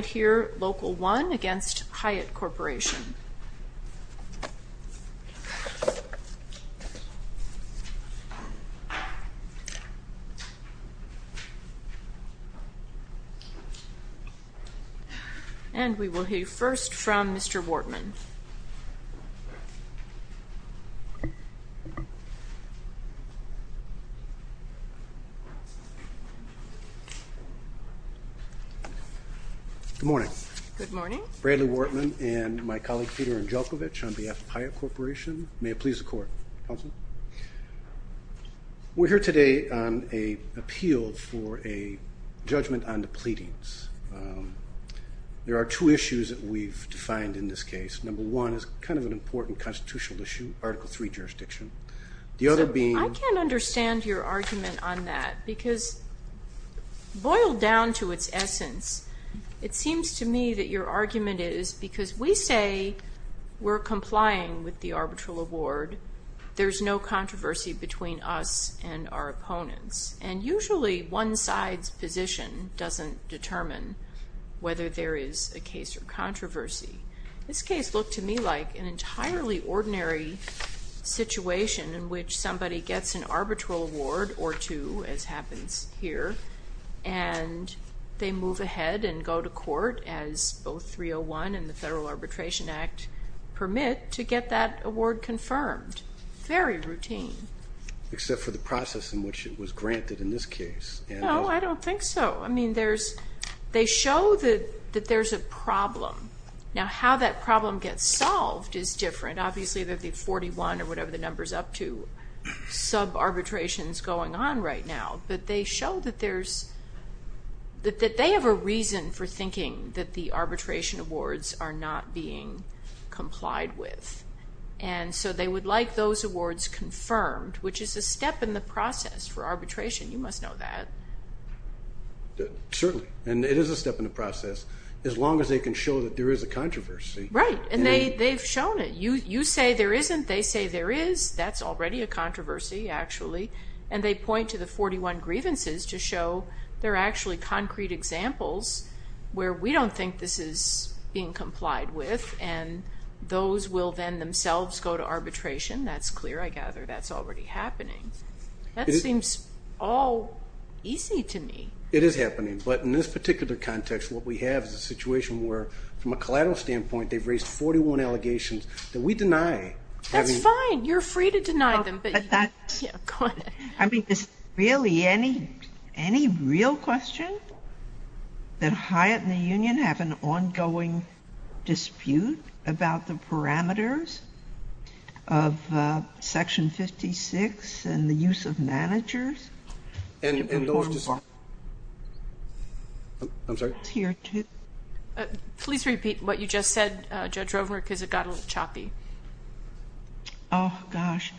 And we will hear first from Mr. Wartman. Good morning. Good morning. Bradley Wartman and my colleague Peter Angelcovich on behalf of Hyatt Corporation. May it please the Court. Counsel. We're here today on an appeal for a judgment on the pleadings. There are two issues that we've defined in this case. Number one is kind of an important constitutional issue, Article III jurisdiction. The other being – I can't understand your argument on that because boiled down to its essence, it seems to me that your argument is because we say we're complying with the arbitral award, there's no controversy between us and our opponents. And usually one side's position doesn't determine whether there is a case or controversy. This case looked to me like an entirely ordinary situation in which somebody gets an arbitral award or two, as happens here, and they move ahead and go to court as both 301 and the Federal Arbitration Act permit to get that award confirmed. Very routine. Except for the process in which it was granted in this case. No, I don't think so. I mean, they show that there's a problem. Now how that problem gets solved is different. Obviously they're the 41 or whatever the number's up to, sub-arbitrations going on right now. But they show that they have a reason for thinking that the arbitration awards are not being complied with. And so they would like those awards confirmed, which is a step in the process for arbitration. You must know that. Certainly. And it is a step in the process as long as they can show that there is a controversy. Right. And they've shown it. You say there isn't, they say there is. That's already a controversy, actually. And they point to the 41 grievances to show there are actually concrete examples where we don't think this is being complied with, and those will then themselves go to arbitration. That's clear, I gather. That's already happening. That seems all easy to me. It is happening. But in this particular context, what we have is a situation where, from a collateral standpoint, they've raised 41 allegations that we deny. That's fine. You're free to deny them. I mean, is there really any real question that Hyatt and the union have an ongoing dispute about the parameters of Section 56 and the use of managers? Please repeat what you just said, Judge Rovner, because it got a little choppy. Oh, gosh.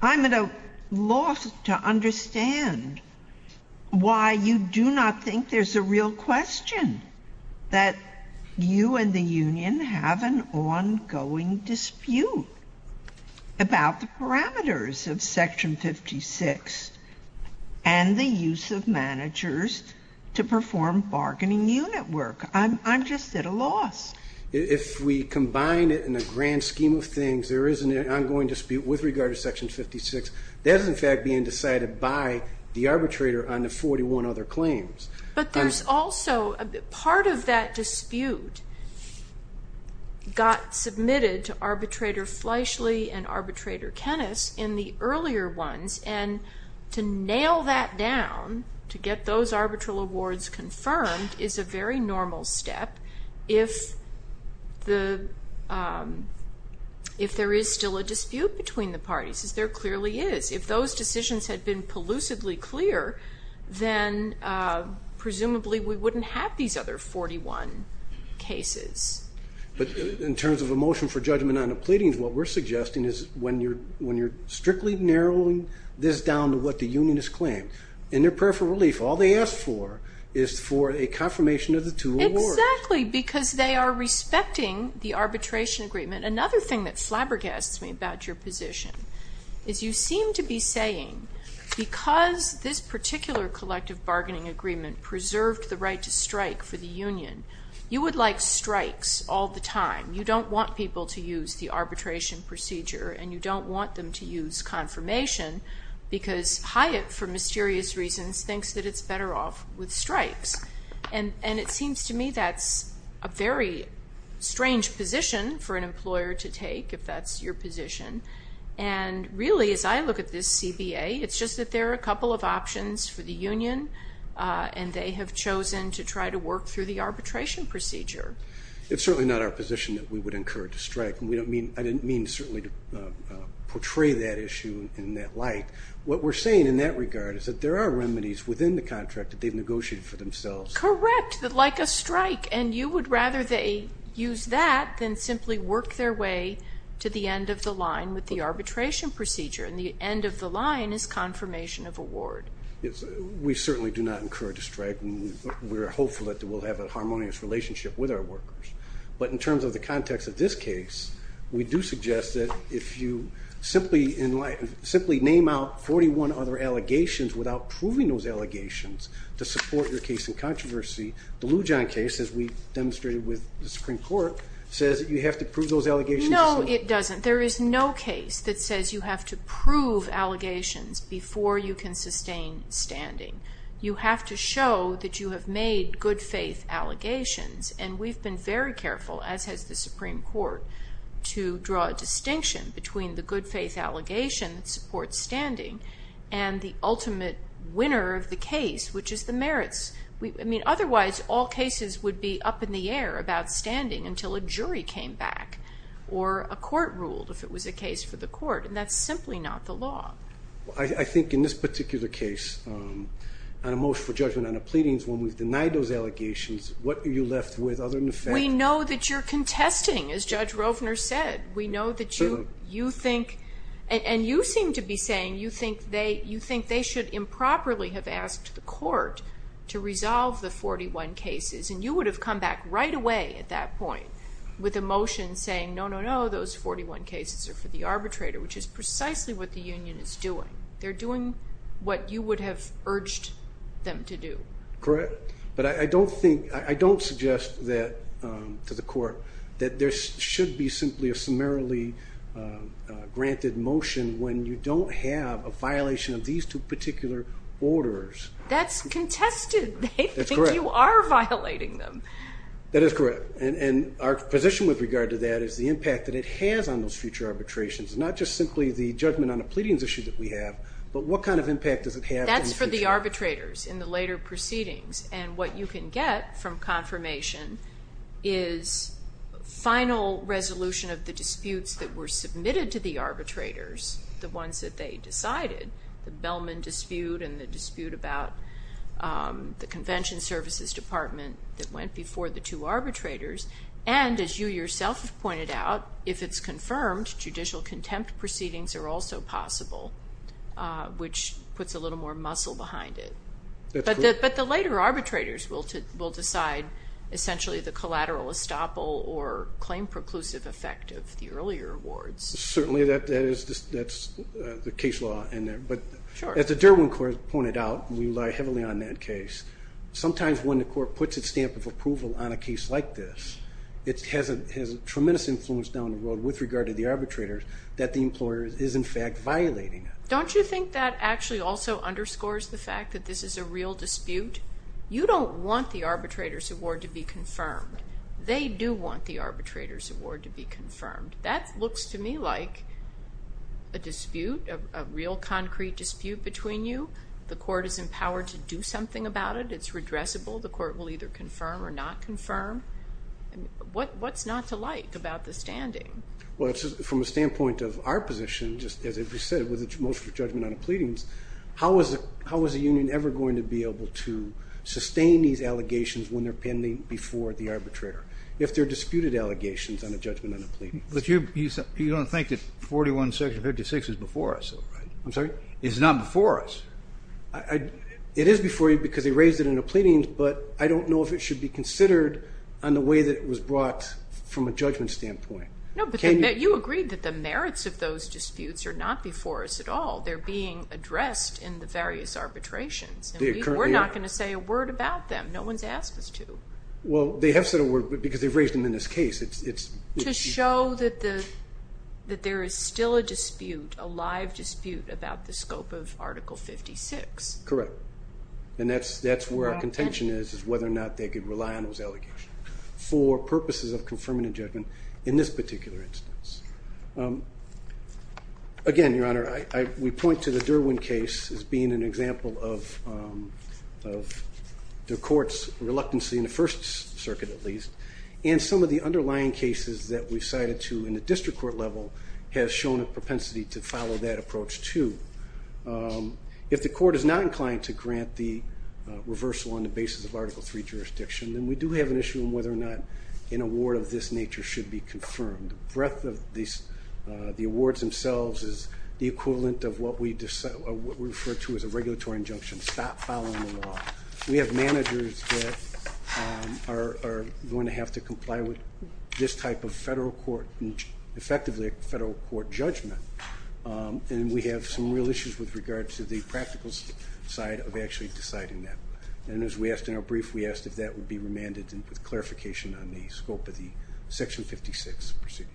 I'm at a loss to understand why you do not think there's a real question, that you and the union have an ongoing dispute about the parameters of Section 56. And the use of managers to perform bargaining unit work. I'm just at a loss. If we combine it in a grand scheme of things, there is an ongoing dispute with regard to Section 56. That is, in fact, being decided by the arbitrator on the 41 other claims. But there's also part of that dispute got submitted to Arbitrator Fleishley and Arbitrator Kennes in the earlier ones. And to nail that down, to get those arbitral awards confirmed, is a very normal step if there is still a dispute between the parties, as there clearly is. If those decisions had been pollucively clear, then presumably we wouldn't have these other 41 cases. But in terms of a motion for judgment on the pleadings, what we're suggesting is when you're strictly narrowing this down to what the union has claimed, in their prayer for relief, all they ask for is for a confirmation of the two awards. Exactly, because they are respecting the arbitration agreement. Another thing that flabbergasts me about your position is you seem to be saying, because this particular collective bargaining agreement preserved the right to strike for the union, you would like strikes all the time. You don't want people to use the arbitration procedure, and you don't want them to use confirmation, because Hyatt, for mysterious reasons, thinks that it's better off with strikes. And it seems to me that's a very strange position for an employer to take, if that's your position. And really, as I look at this CBA, it's just that there are a couple of options for the union, and they have chosen to try to work through the arbitration procedure. It's certainly not our position that we would encourage a strike, and I didn't mean to certainly portray that issue in that light. What we're saying in that regard is that there are remedies within the contract that they've negotiated for themselves. Correct, like a strike. And you would rather they use that than simply work their way to the end of the line with the arbitration procedure, and the end of the line is confirmation of award. We certainly do not encourage a strike. We're hopeful that we'll have a harmonious relationship with our workers. But in terms of the context of this case, we do suggest that if you simply name out 41 other allegations without proving those allegations to support your case in controversy, the Lujan case, as we demonstrated with the Supreme Court, says that you have to prove those allegations. No, it doesn't. There is no case that says you have to prove allegations before you can sustain standing. You have to show that you have made good-faith allegations, and we've been very careful, as has the Supreme Court, to draw a distinction between the good-faith allegation that supports standing and the ultimate winner of the case, which is the merits. I mean, otherwise, all cases would be up in the air about standing until a jury came back or a court ruled, if it was a case for the court, and that's simply not the law. I think in this particular case, on a motion for judgment on the pleadings, when we've denied those allegations, what are you left with other than the fact? We know that you're contesting, as Judge Rovner said. We know that you think, and you seem to be saying, you think they should improperly have asked the court to resolve the 41 cases, and you would have come back right away at that point with a motion saying, no, no, no, those 41 cases are for the arbitrator, which is precisely what the union is doing. They're doing what you would have urged them to do. Correct. But I don't suggest to the court that there should be simply a summarily granted motion when you don't have a violation of these two particular orders. That's contested. That's correct. But you are violating them. That is correct, and our position with regard to that is the impact that it has on those future arbitrations, not just simply the judgment on the pleadings issue that we have, but what kind of impact does it have on the future? That's for the arbitrators in the later proceedings, and what you can get from confirmation is a final resolution of the disputes that were submitted to the arbitrators, the ones that they decided, the Bellman dispute and the dispute about the convention services department that went before the two arbitrators, and as you yourself have pointed out, if it's confirmed, judicial contempt proceedings are also possible, which puts a little more muscle behind it. But the later arbitrators will decide essentially the collateral estoppel or claim preclusive effect of the earlier awards. Certainly, that's the case law in there. But as the Derwin Court pointed out, we rely heavily on that case. Sometimes when the court puts its stamp of approval on a case like this, it has a tremendous influence down the road with regard to the arbitrators that the employer is in fact violating it. Don't you think that actually also underscores the fact that this is a real dispute? You don't want the arbitrator's award to be confirmed. They do want the arbitrator's award to be confirmed. That looks to me like a dispute, a real concrete dispute between you. The court is empowered to do something about it. It's redressable. The court will either confirm or not confirm. What's not to like about the standing? Well, from the standpoint of our position, just as we said with the motion for judgment on the pleadings, how is a union ever going to be able to sustain these allegations when they're pending before the arbitrator if they're disputed allegations on a judgment on a pleading? But you don't think that 41, Section 56 is before us? I'm sorry? It's not before us. It is before you because they raised it in a pleading, but I don't know if it should be considered on the way that it was brought from a judgment standpoint. No, but you agreed that the merits of those disputes are not before us at all. They're being addressed in the various arbitrations. We're not going to say a word about them. No one's asked us to. Well, they have said a word because they've raised them in this case. To show that there is still a dispute, a live dispute about the scope of Article 56. Correct, and that's where our contention is, is whether or not they could rely on those allegations for purposes of confirming a judgment in this particular instance. Again, Your Honor, we point to the Derwin case as being an example of the court's reluctance in the First Circuit, at least, and some of the underlying cases that we cited to in the district court level has shown a propensity to follow that approach, too. If the court is not inclined to grant the reversal on the basis of Article III jurisdiction, then we do have an issue on whether or not an award of this nature should be confirmed. The breadth of the awards themselves is the equivalent of what we refer to as a regulatory injunction. Stop following the law. We have managers that are going to have to comply with this type of federal court, effectively a federal court judgment, and we have some real issues with regards to the practical side of actually deciding that. And as we asked in our brief, we asked if that would be remanded with clarification on the scope of the Section 56 proceeding.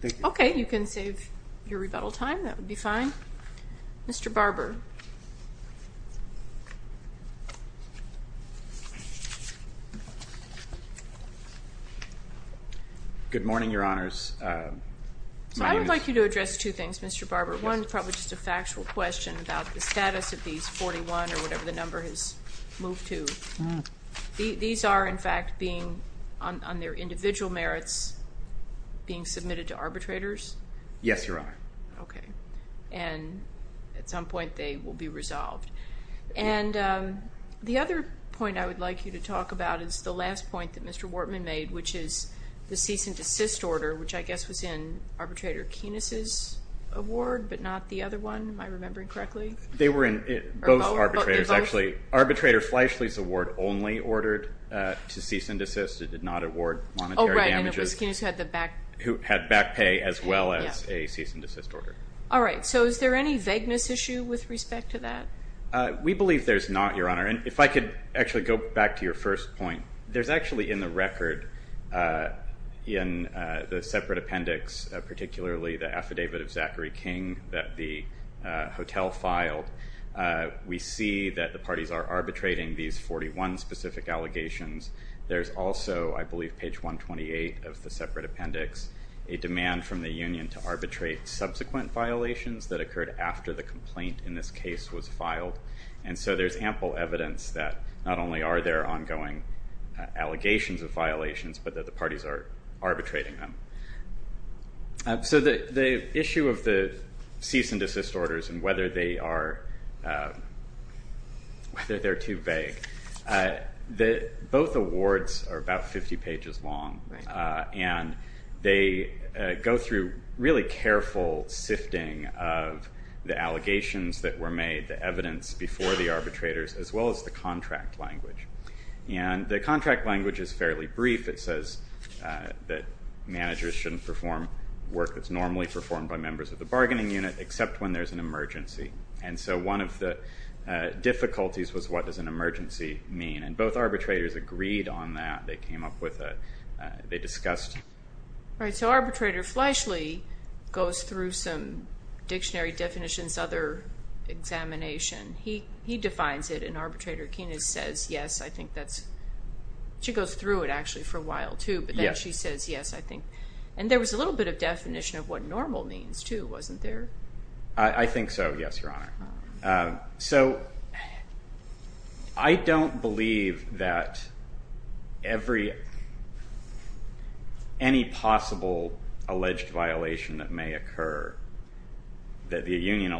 Thank you. Okay, you can save your rebuttal time. That would be fine. Mr. Barber. Good morning, Your Honors. I would like you to address two things, Mr. Barber. One is probably just a factual question about the status of these 41 or whatever the number has moved to. These are, in fact, being on their individual merits being submitted to arbitrators? Yes, Your Honor. Okay. And at some point they will be resolved. And the other point I would like you to talk about is the last point that Mr. Wartman made, which is the cease and desist order, which I guess was in Arbitrator Keenis's award but not the other one. Am I remembering correctly? They were in both arbitrators, actually. Arbitrator Fleischle's award only ordered to cease and desist. It did not award monetary damages. Oh, right. All right. So is there any vagueness issue with respect to that? We believe there's not, Your Honor. If I could actually go back to your first point, there's actually in the record in the separate appendix, particularly the affidavit of Zachary King that the hotel filed, we see that the parties are arbitrating these 41 specific allegations. There's also, I believe, page 128 of the separate appendix, a demand from the union to arbitrate subsequent violations that occurred after the complaint in this case was filed. And so there's ample evidence that not only are there ongoing allegations of violations but that the parties are arbitrating them. So the issue of the cease and desist orders and whether they are too vague, both awards are about 50 pages long, and they go through really careful sifting of the allegations that were made, the evidence before the arbitrators, as well as the contract language. And the contract language is fairly brief. It says that managers shouldn't perform work that's normally performed by And so one of the difficulties was what does an emergency mean? And both arbitrators agreed on that. They came up with it. They discussed it. All right. So Arbitrator Fleshley goes through some dictionary definitions, other examination. He defines it, and Arbitrator Keenan says yes. I think that's – she goes through it actually for a while, too. But then she says yes, I think. And there was a little bit of definition of what normal means, too, wasn't there? I think so, yes, Your Honor. So I don't believe that any possible alleged violation that may occur, that the union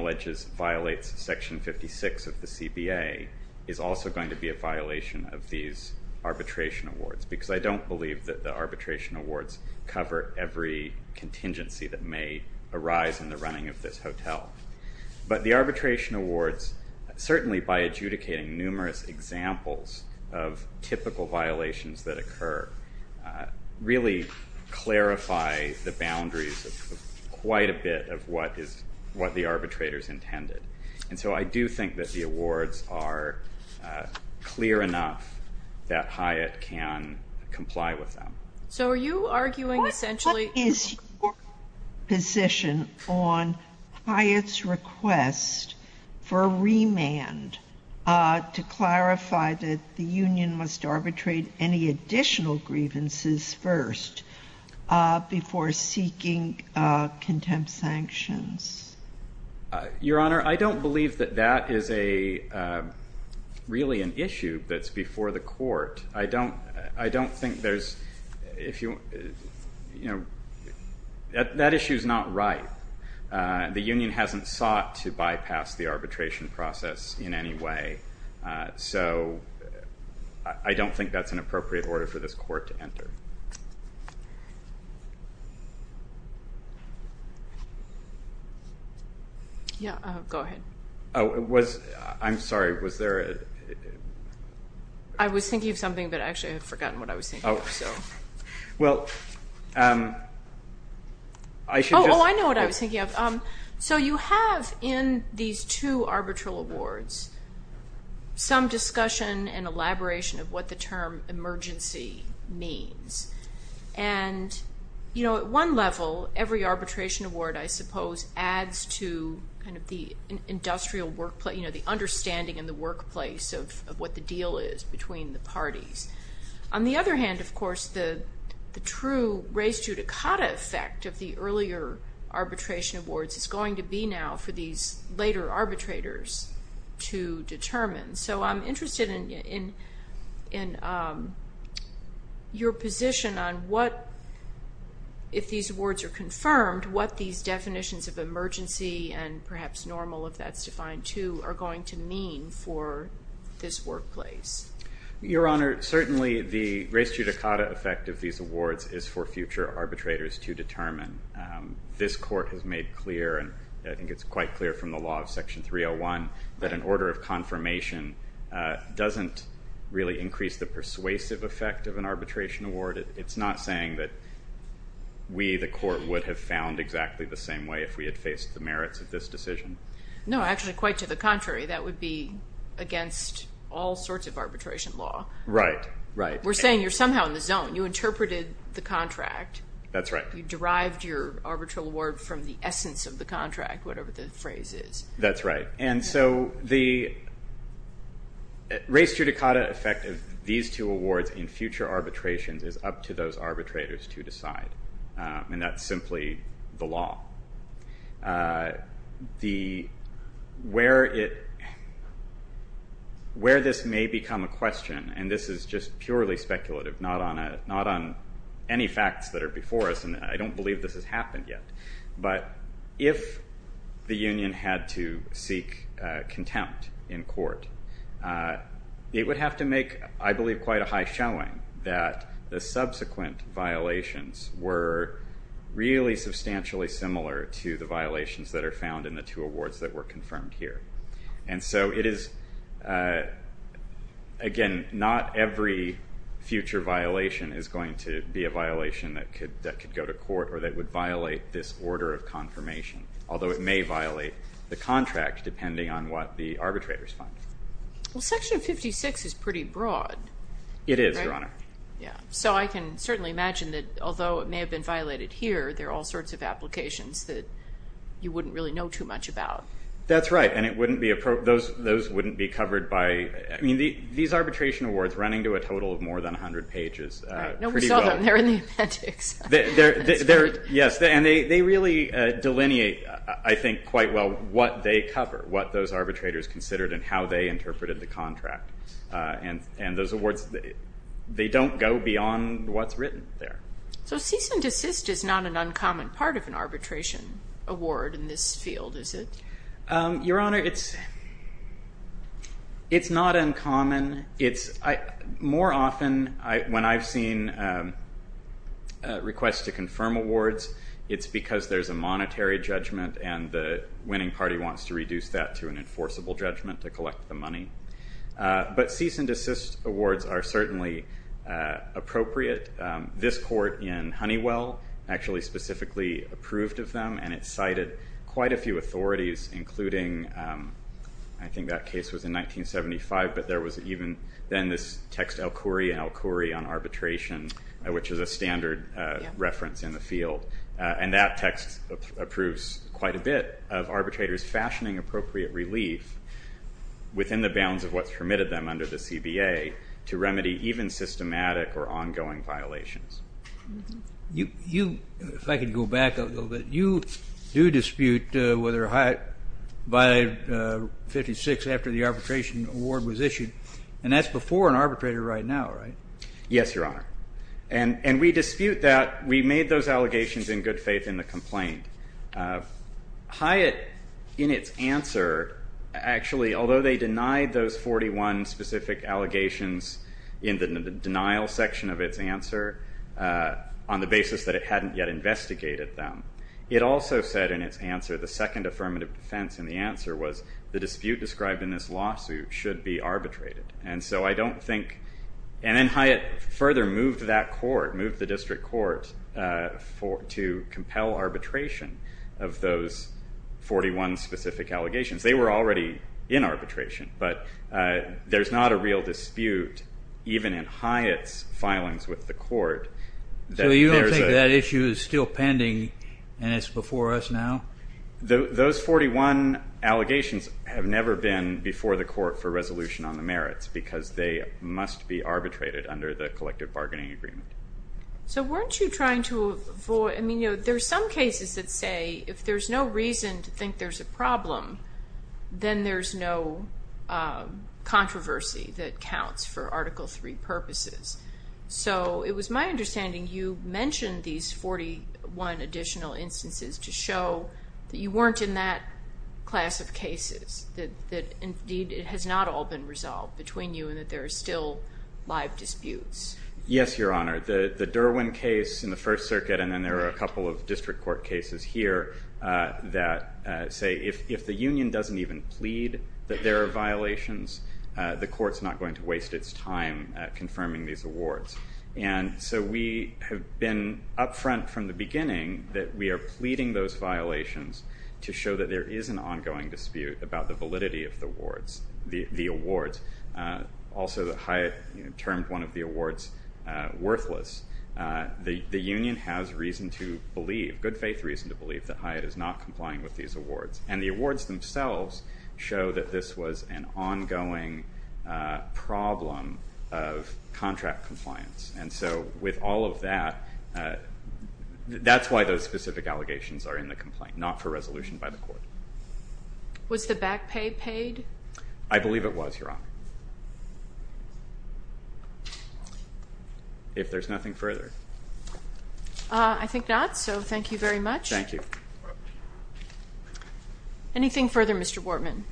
violates Section 56 of the CBA, is also going to be a violation of these arbitration awards because I don't believe that the arbitration awards cover every contingency that may arise in the running of this hotel. But the arbitration awards, certainly by adjudicating numerous examples of typical violations that occur, really clarify the boundaries of quite a bit of what the arbitrators intended. And so I do think that the awards are clear enough that Hyatt can comply with them. So are you arguing essentially – What is your position on Hyatt's request for remand to clarify that the union must arbitrate any additional grievances first before seeking contempt sanctions? Your Honor, I don't believe that that is a – really an issue that's before the court. I don't think there's – that issue is not right. The union hasn't sought to bypass the arbitration process in any way. So I don't think that's an appropriate order for this court to enter. Yeah, go ahead. I'm sorry, was there a – I was thinking of something, but actually I had forgotten what I was thinking of. Well, I should just – Oh, I know what I was thinking of. So you have in these two arbitral awards some discussion and elaboration of what the term emergency means. And, you know, at one level, every arbitration award, I suppose, adds to kind of the industrial workplace, you know, the understanding in the workplace of what the deal is between the parties. On the other hand, of course, the true res judicata effect of the earlier arbitration awards is going to be now for these later arbitrators to determine. So I'm interested in your position on what, if these awards are confirmed, what these definitions of emergency and perhaps normal, if that's defined too, are going to mean for this workplace. Your Honor, certainly the res judicata effect of these awards is for future arbitrators to determine. This court has made clear, and I think it's quite clear from the law of Section 301, that an order of confirmation doesn't really increase the persuasive effect of an arbitration award. It's not saying that we, the court, would have found exactly the same way if we had faced the merits of this decision. No, actually, quite to the contrary. That would be against all sorts of arbitration law. Right, right. We're saying you're somehow in the zone. You interpreted the contract. That's right. You derived your arbitral award from the essence of the contract, whatever the phrase is. That's right. And so the res judicata effect of these two awards in future arbitrations is up to those arbitrators to decide, and that's simply the law. Where this may become a question, and this is just purely speculative, not on any facts that are before us, and I don't believe this has happened yet, but if the union had to seek contempt in court, it would have to make, I believe, quite a high showing that the subsequent violations were really substantially similar to the violations that are found in the two awards that were confirmed here. And so it is, again, not every future violation is going to be a violation that could go to court or that would violate this order of confirmation, although it may violate the contract depending on what the arbitrators find. Well, Section 56 is pretty broad. It is, Your Honor. Yeah. So I can certainly imagine that although it may have been violated here, there are all sorts of applications that you wouldn't really know too much about. That's right, and those wouldn't be covered by, I mean, these arbitration awards running to a total of more than 100 pages. Right. No, we saw them. They're in the appendix. Yes, and they really delineate, I think, quite well what they cover, what those arbitrators considered and how they interpreted the contract. And those awards, they don't go beyond what's written there. So cease and desist is not an uncommon part of an arbitration award in this field, is it? Your Honor, it's not uncommon. More often when I've seen requests to confirm awards, it's because there's a monetary judgment and the winning party wants to reduce that to an enforceable judgment to collect the money. But cease and desist awards are certainly appropriate. This court in Honeywell actually specifically approved of them, and it cited quite a few authorities, including I think that case was in 1975, but there was even then this text, El Khoury and El Khoury on arbitration, which is a standard reference in the field. And that text approves quite a bit of arbitrators fashioning appropriate relief within the bounds of what's permitted them under the CBA to remedy even systematic or ongoing violations. If I could go back a little bit, you do dispute whether Hyatt violated 56 after the arbitration award was issued, and that's before an arbitrator right now, right? Yes, Your Honor. And we dispute that. We made those allegations in good faith in the complaint. Hyatt, in its answer, actually, although they denied those 41 specific allegations in the denial section of its answer on the basis that it hadn't yet investigated them, it also said in its answer the second affirmative defense in the answer was the dispute described in this lawsuit should be arbitrated. And so I don't think ñ and then Hyatt further moved that court, moved the district court to compel arbitration of those 41 specific allegations. They were already in arbitration, but there's not a real dispute even in Hyatt's filings with the court. So you don't think that issue is still pending and it's before us now? Those 41 allegations have never been before the court for resolution on the merits because they must be arbitrated under the collective bargaining agreement. So weren't you trying to avoid ñ I mean, you know, there are some cases that say if there's no reason to think there's a problem, then there's no controversy that counts for Article III purposes. So it was my understanding you mentioned these 41 additional instances to show that you weren't in that class of cases, that indeed it has not all been resolved between you and that there are still live disputes. Yes, Your Honor. The Derwin case in the First Circuit and then there are a couple of district court cases here that say if the union doesn't even plead that there are violations, the court's not going to waste its time confirming these awards. And so we have been up front from the beginning that we are pleading those violations to show that there is an ongoing dispute about the validity of the awards. Also that Hyatt termed one of the awards worthless. The union has reason to believe, good faith reason to believe, that Hyatt is not complying with these awards. And the awards themselves show that this was an ongoing problem of contract compliance. And so with all of that, that's why those specific allegations are in the complaint, not for resolution by the court. Was the back pay paid? I believe it was, Your Honor. If there's nothing further. I think not, so thank you very much. Thank you. Anything further, Mr. Bortman?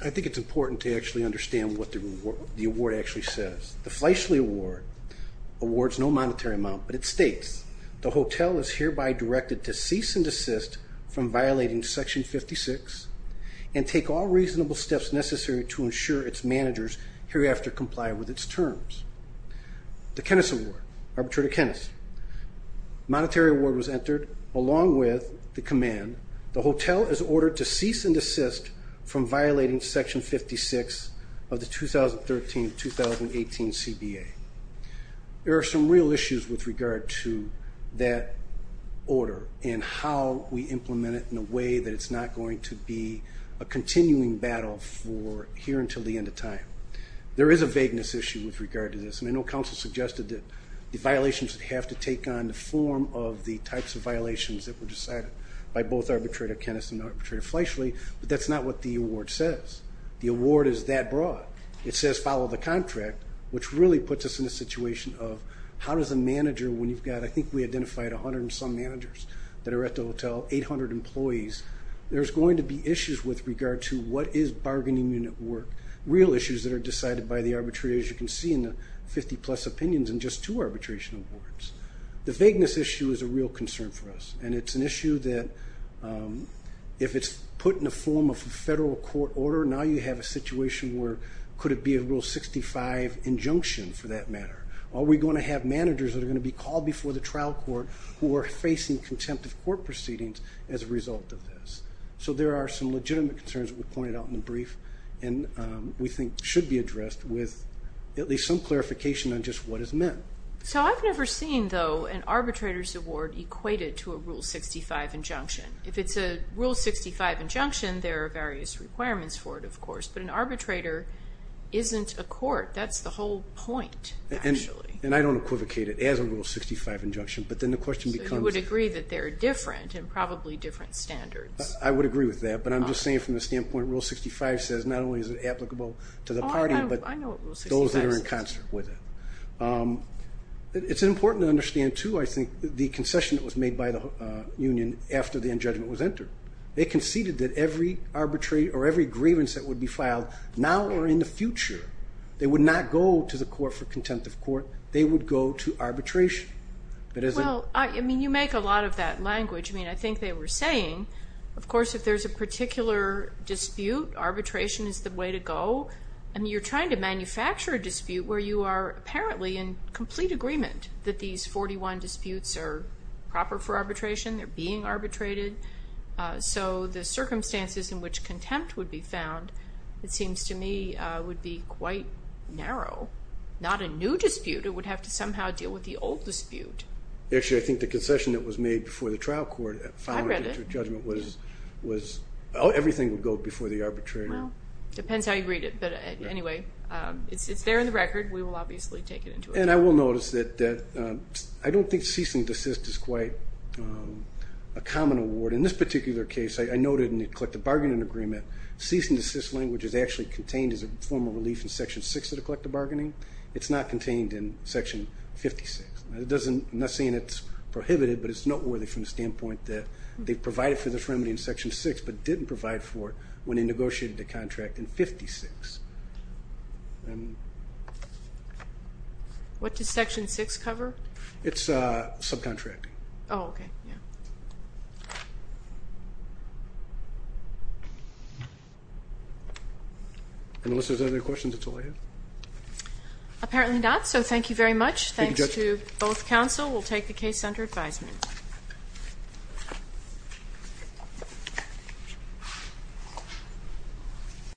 I think it's important to actually understand what the award actually says. The Fleishley Award awards no monetary amount, but it states, the hotel is hereby directed to cease and desist from violating Section 56 and take all reasonable steps necessary to ensure its managers hereafter comply with its terms. The Kennis Award, Arbitrator Kennis. Monetary award was entered along with the command, the hotel is ordered to cease and desist from violating Section 56 of the 2013-2018 CBA. There are some real issues with regard to that order and how we implement it in a way that it's not going to be a continuing battle for here until the end of time. There is a vagueness issue with regard to this, and I know counsel suggested that the violations would have to take on the form of the types of violations that were decided by both Arbitrator Kennis and Arbitrator Fleishley, but that's not what the award says. The award is that broad. It says follow the contract, which really puts us in a situation of how does a manager, when you've got, I think we identified 100 and some managers that are at the hotel, 800 employees, there's going to be issues with regard to what is bargaining unit work, real issues that are decided by the arbitrator, as you can see in the 50-plus opinions and just two arbitration awards. The vagueness issue is a real concern for us, and it's an issue that if it's put in the form of a federal court order, now you have a situation where could it be a Rule 65 injunction for that matter? Are we going to have managers that are going to be called before the trial court who are facing contempt of court proceedings as a result of this? So there are some legitimate concerns that were pointed out in the brief and we think should be addressed with at least some clarification on just what is meant. So I've never seen, though, an arbitrator's award equated to a Rule 65 injunction. If it's a Rule 65 injunction, there are various requirements for it, of course, but an arbitrator isn't a court. That's the whole point, actually. And I don't equivocate it as a Rule 65 injunction, but then the question becomes. So you would agree that they're different and probably different standards. I would agree with that, but I'm just saying from the standpoint Rule 65 says not only is it applicable to the party but those that are in concert with it. It's important to understand, too, I think, the concession that was made by the union after the injudgment was entered. They conceded that every arbitration or every grievance that would be filed now or in the future, they would not go to the court for contempt of court. They would go to arbitration. Well, I mean, you make a lot of that language. I mean, I think they were saying, of course, if there's a particular dispute, arbitration is the way to go. I mean, you're trying to manufacture a dispute where you are apparently in complete agreement that these 41 disputes are proper for arbitration. They're being arbitrated. So the circumstances in which contempt would be found, it seems to me, would be quite narrow. Not a new dispute. It would have to somehow deal with the old dispute. Actually, I think the concession that was made before the trial court following the judgment was everything would go before the arbitrator. Depends how you read it. But anyway, it's there in the record. We will obviously take it into account. And I will notice that I don't think cease and desist is quite a common award. In this particular case, I noted in the collective bargaining agreement, cease and desist language is actually contained as a form of relief in Section 6 of the collective bargaining. It's not contained in Section 56. I'm not saying it's prohibited, but it's noteworthy from the standpoint that they provided for the remedy in Section 6, but didn't provide for it when they negotiated the contract in 56. What does Section 6 cover? It's subcontracting. Oh, okay. Unless there's other questions, that's all I have. Apparently not, so thank you very much. Thank you, Judge. To both counsel, we'll take the case under advisement.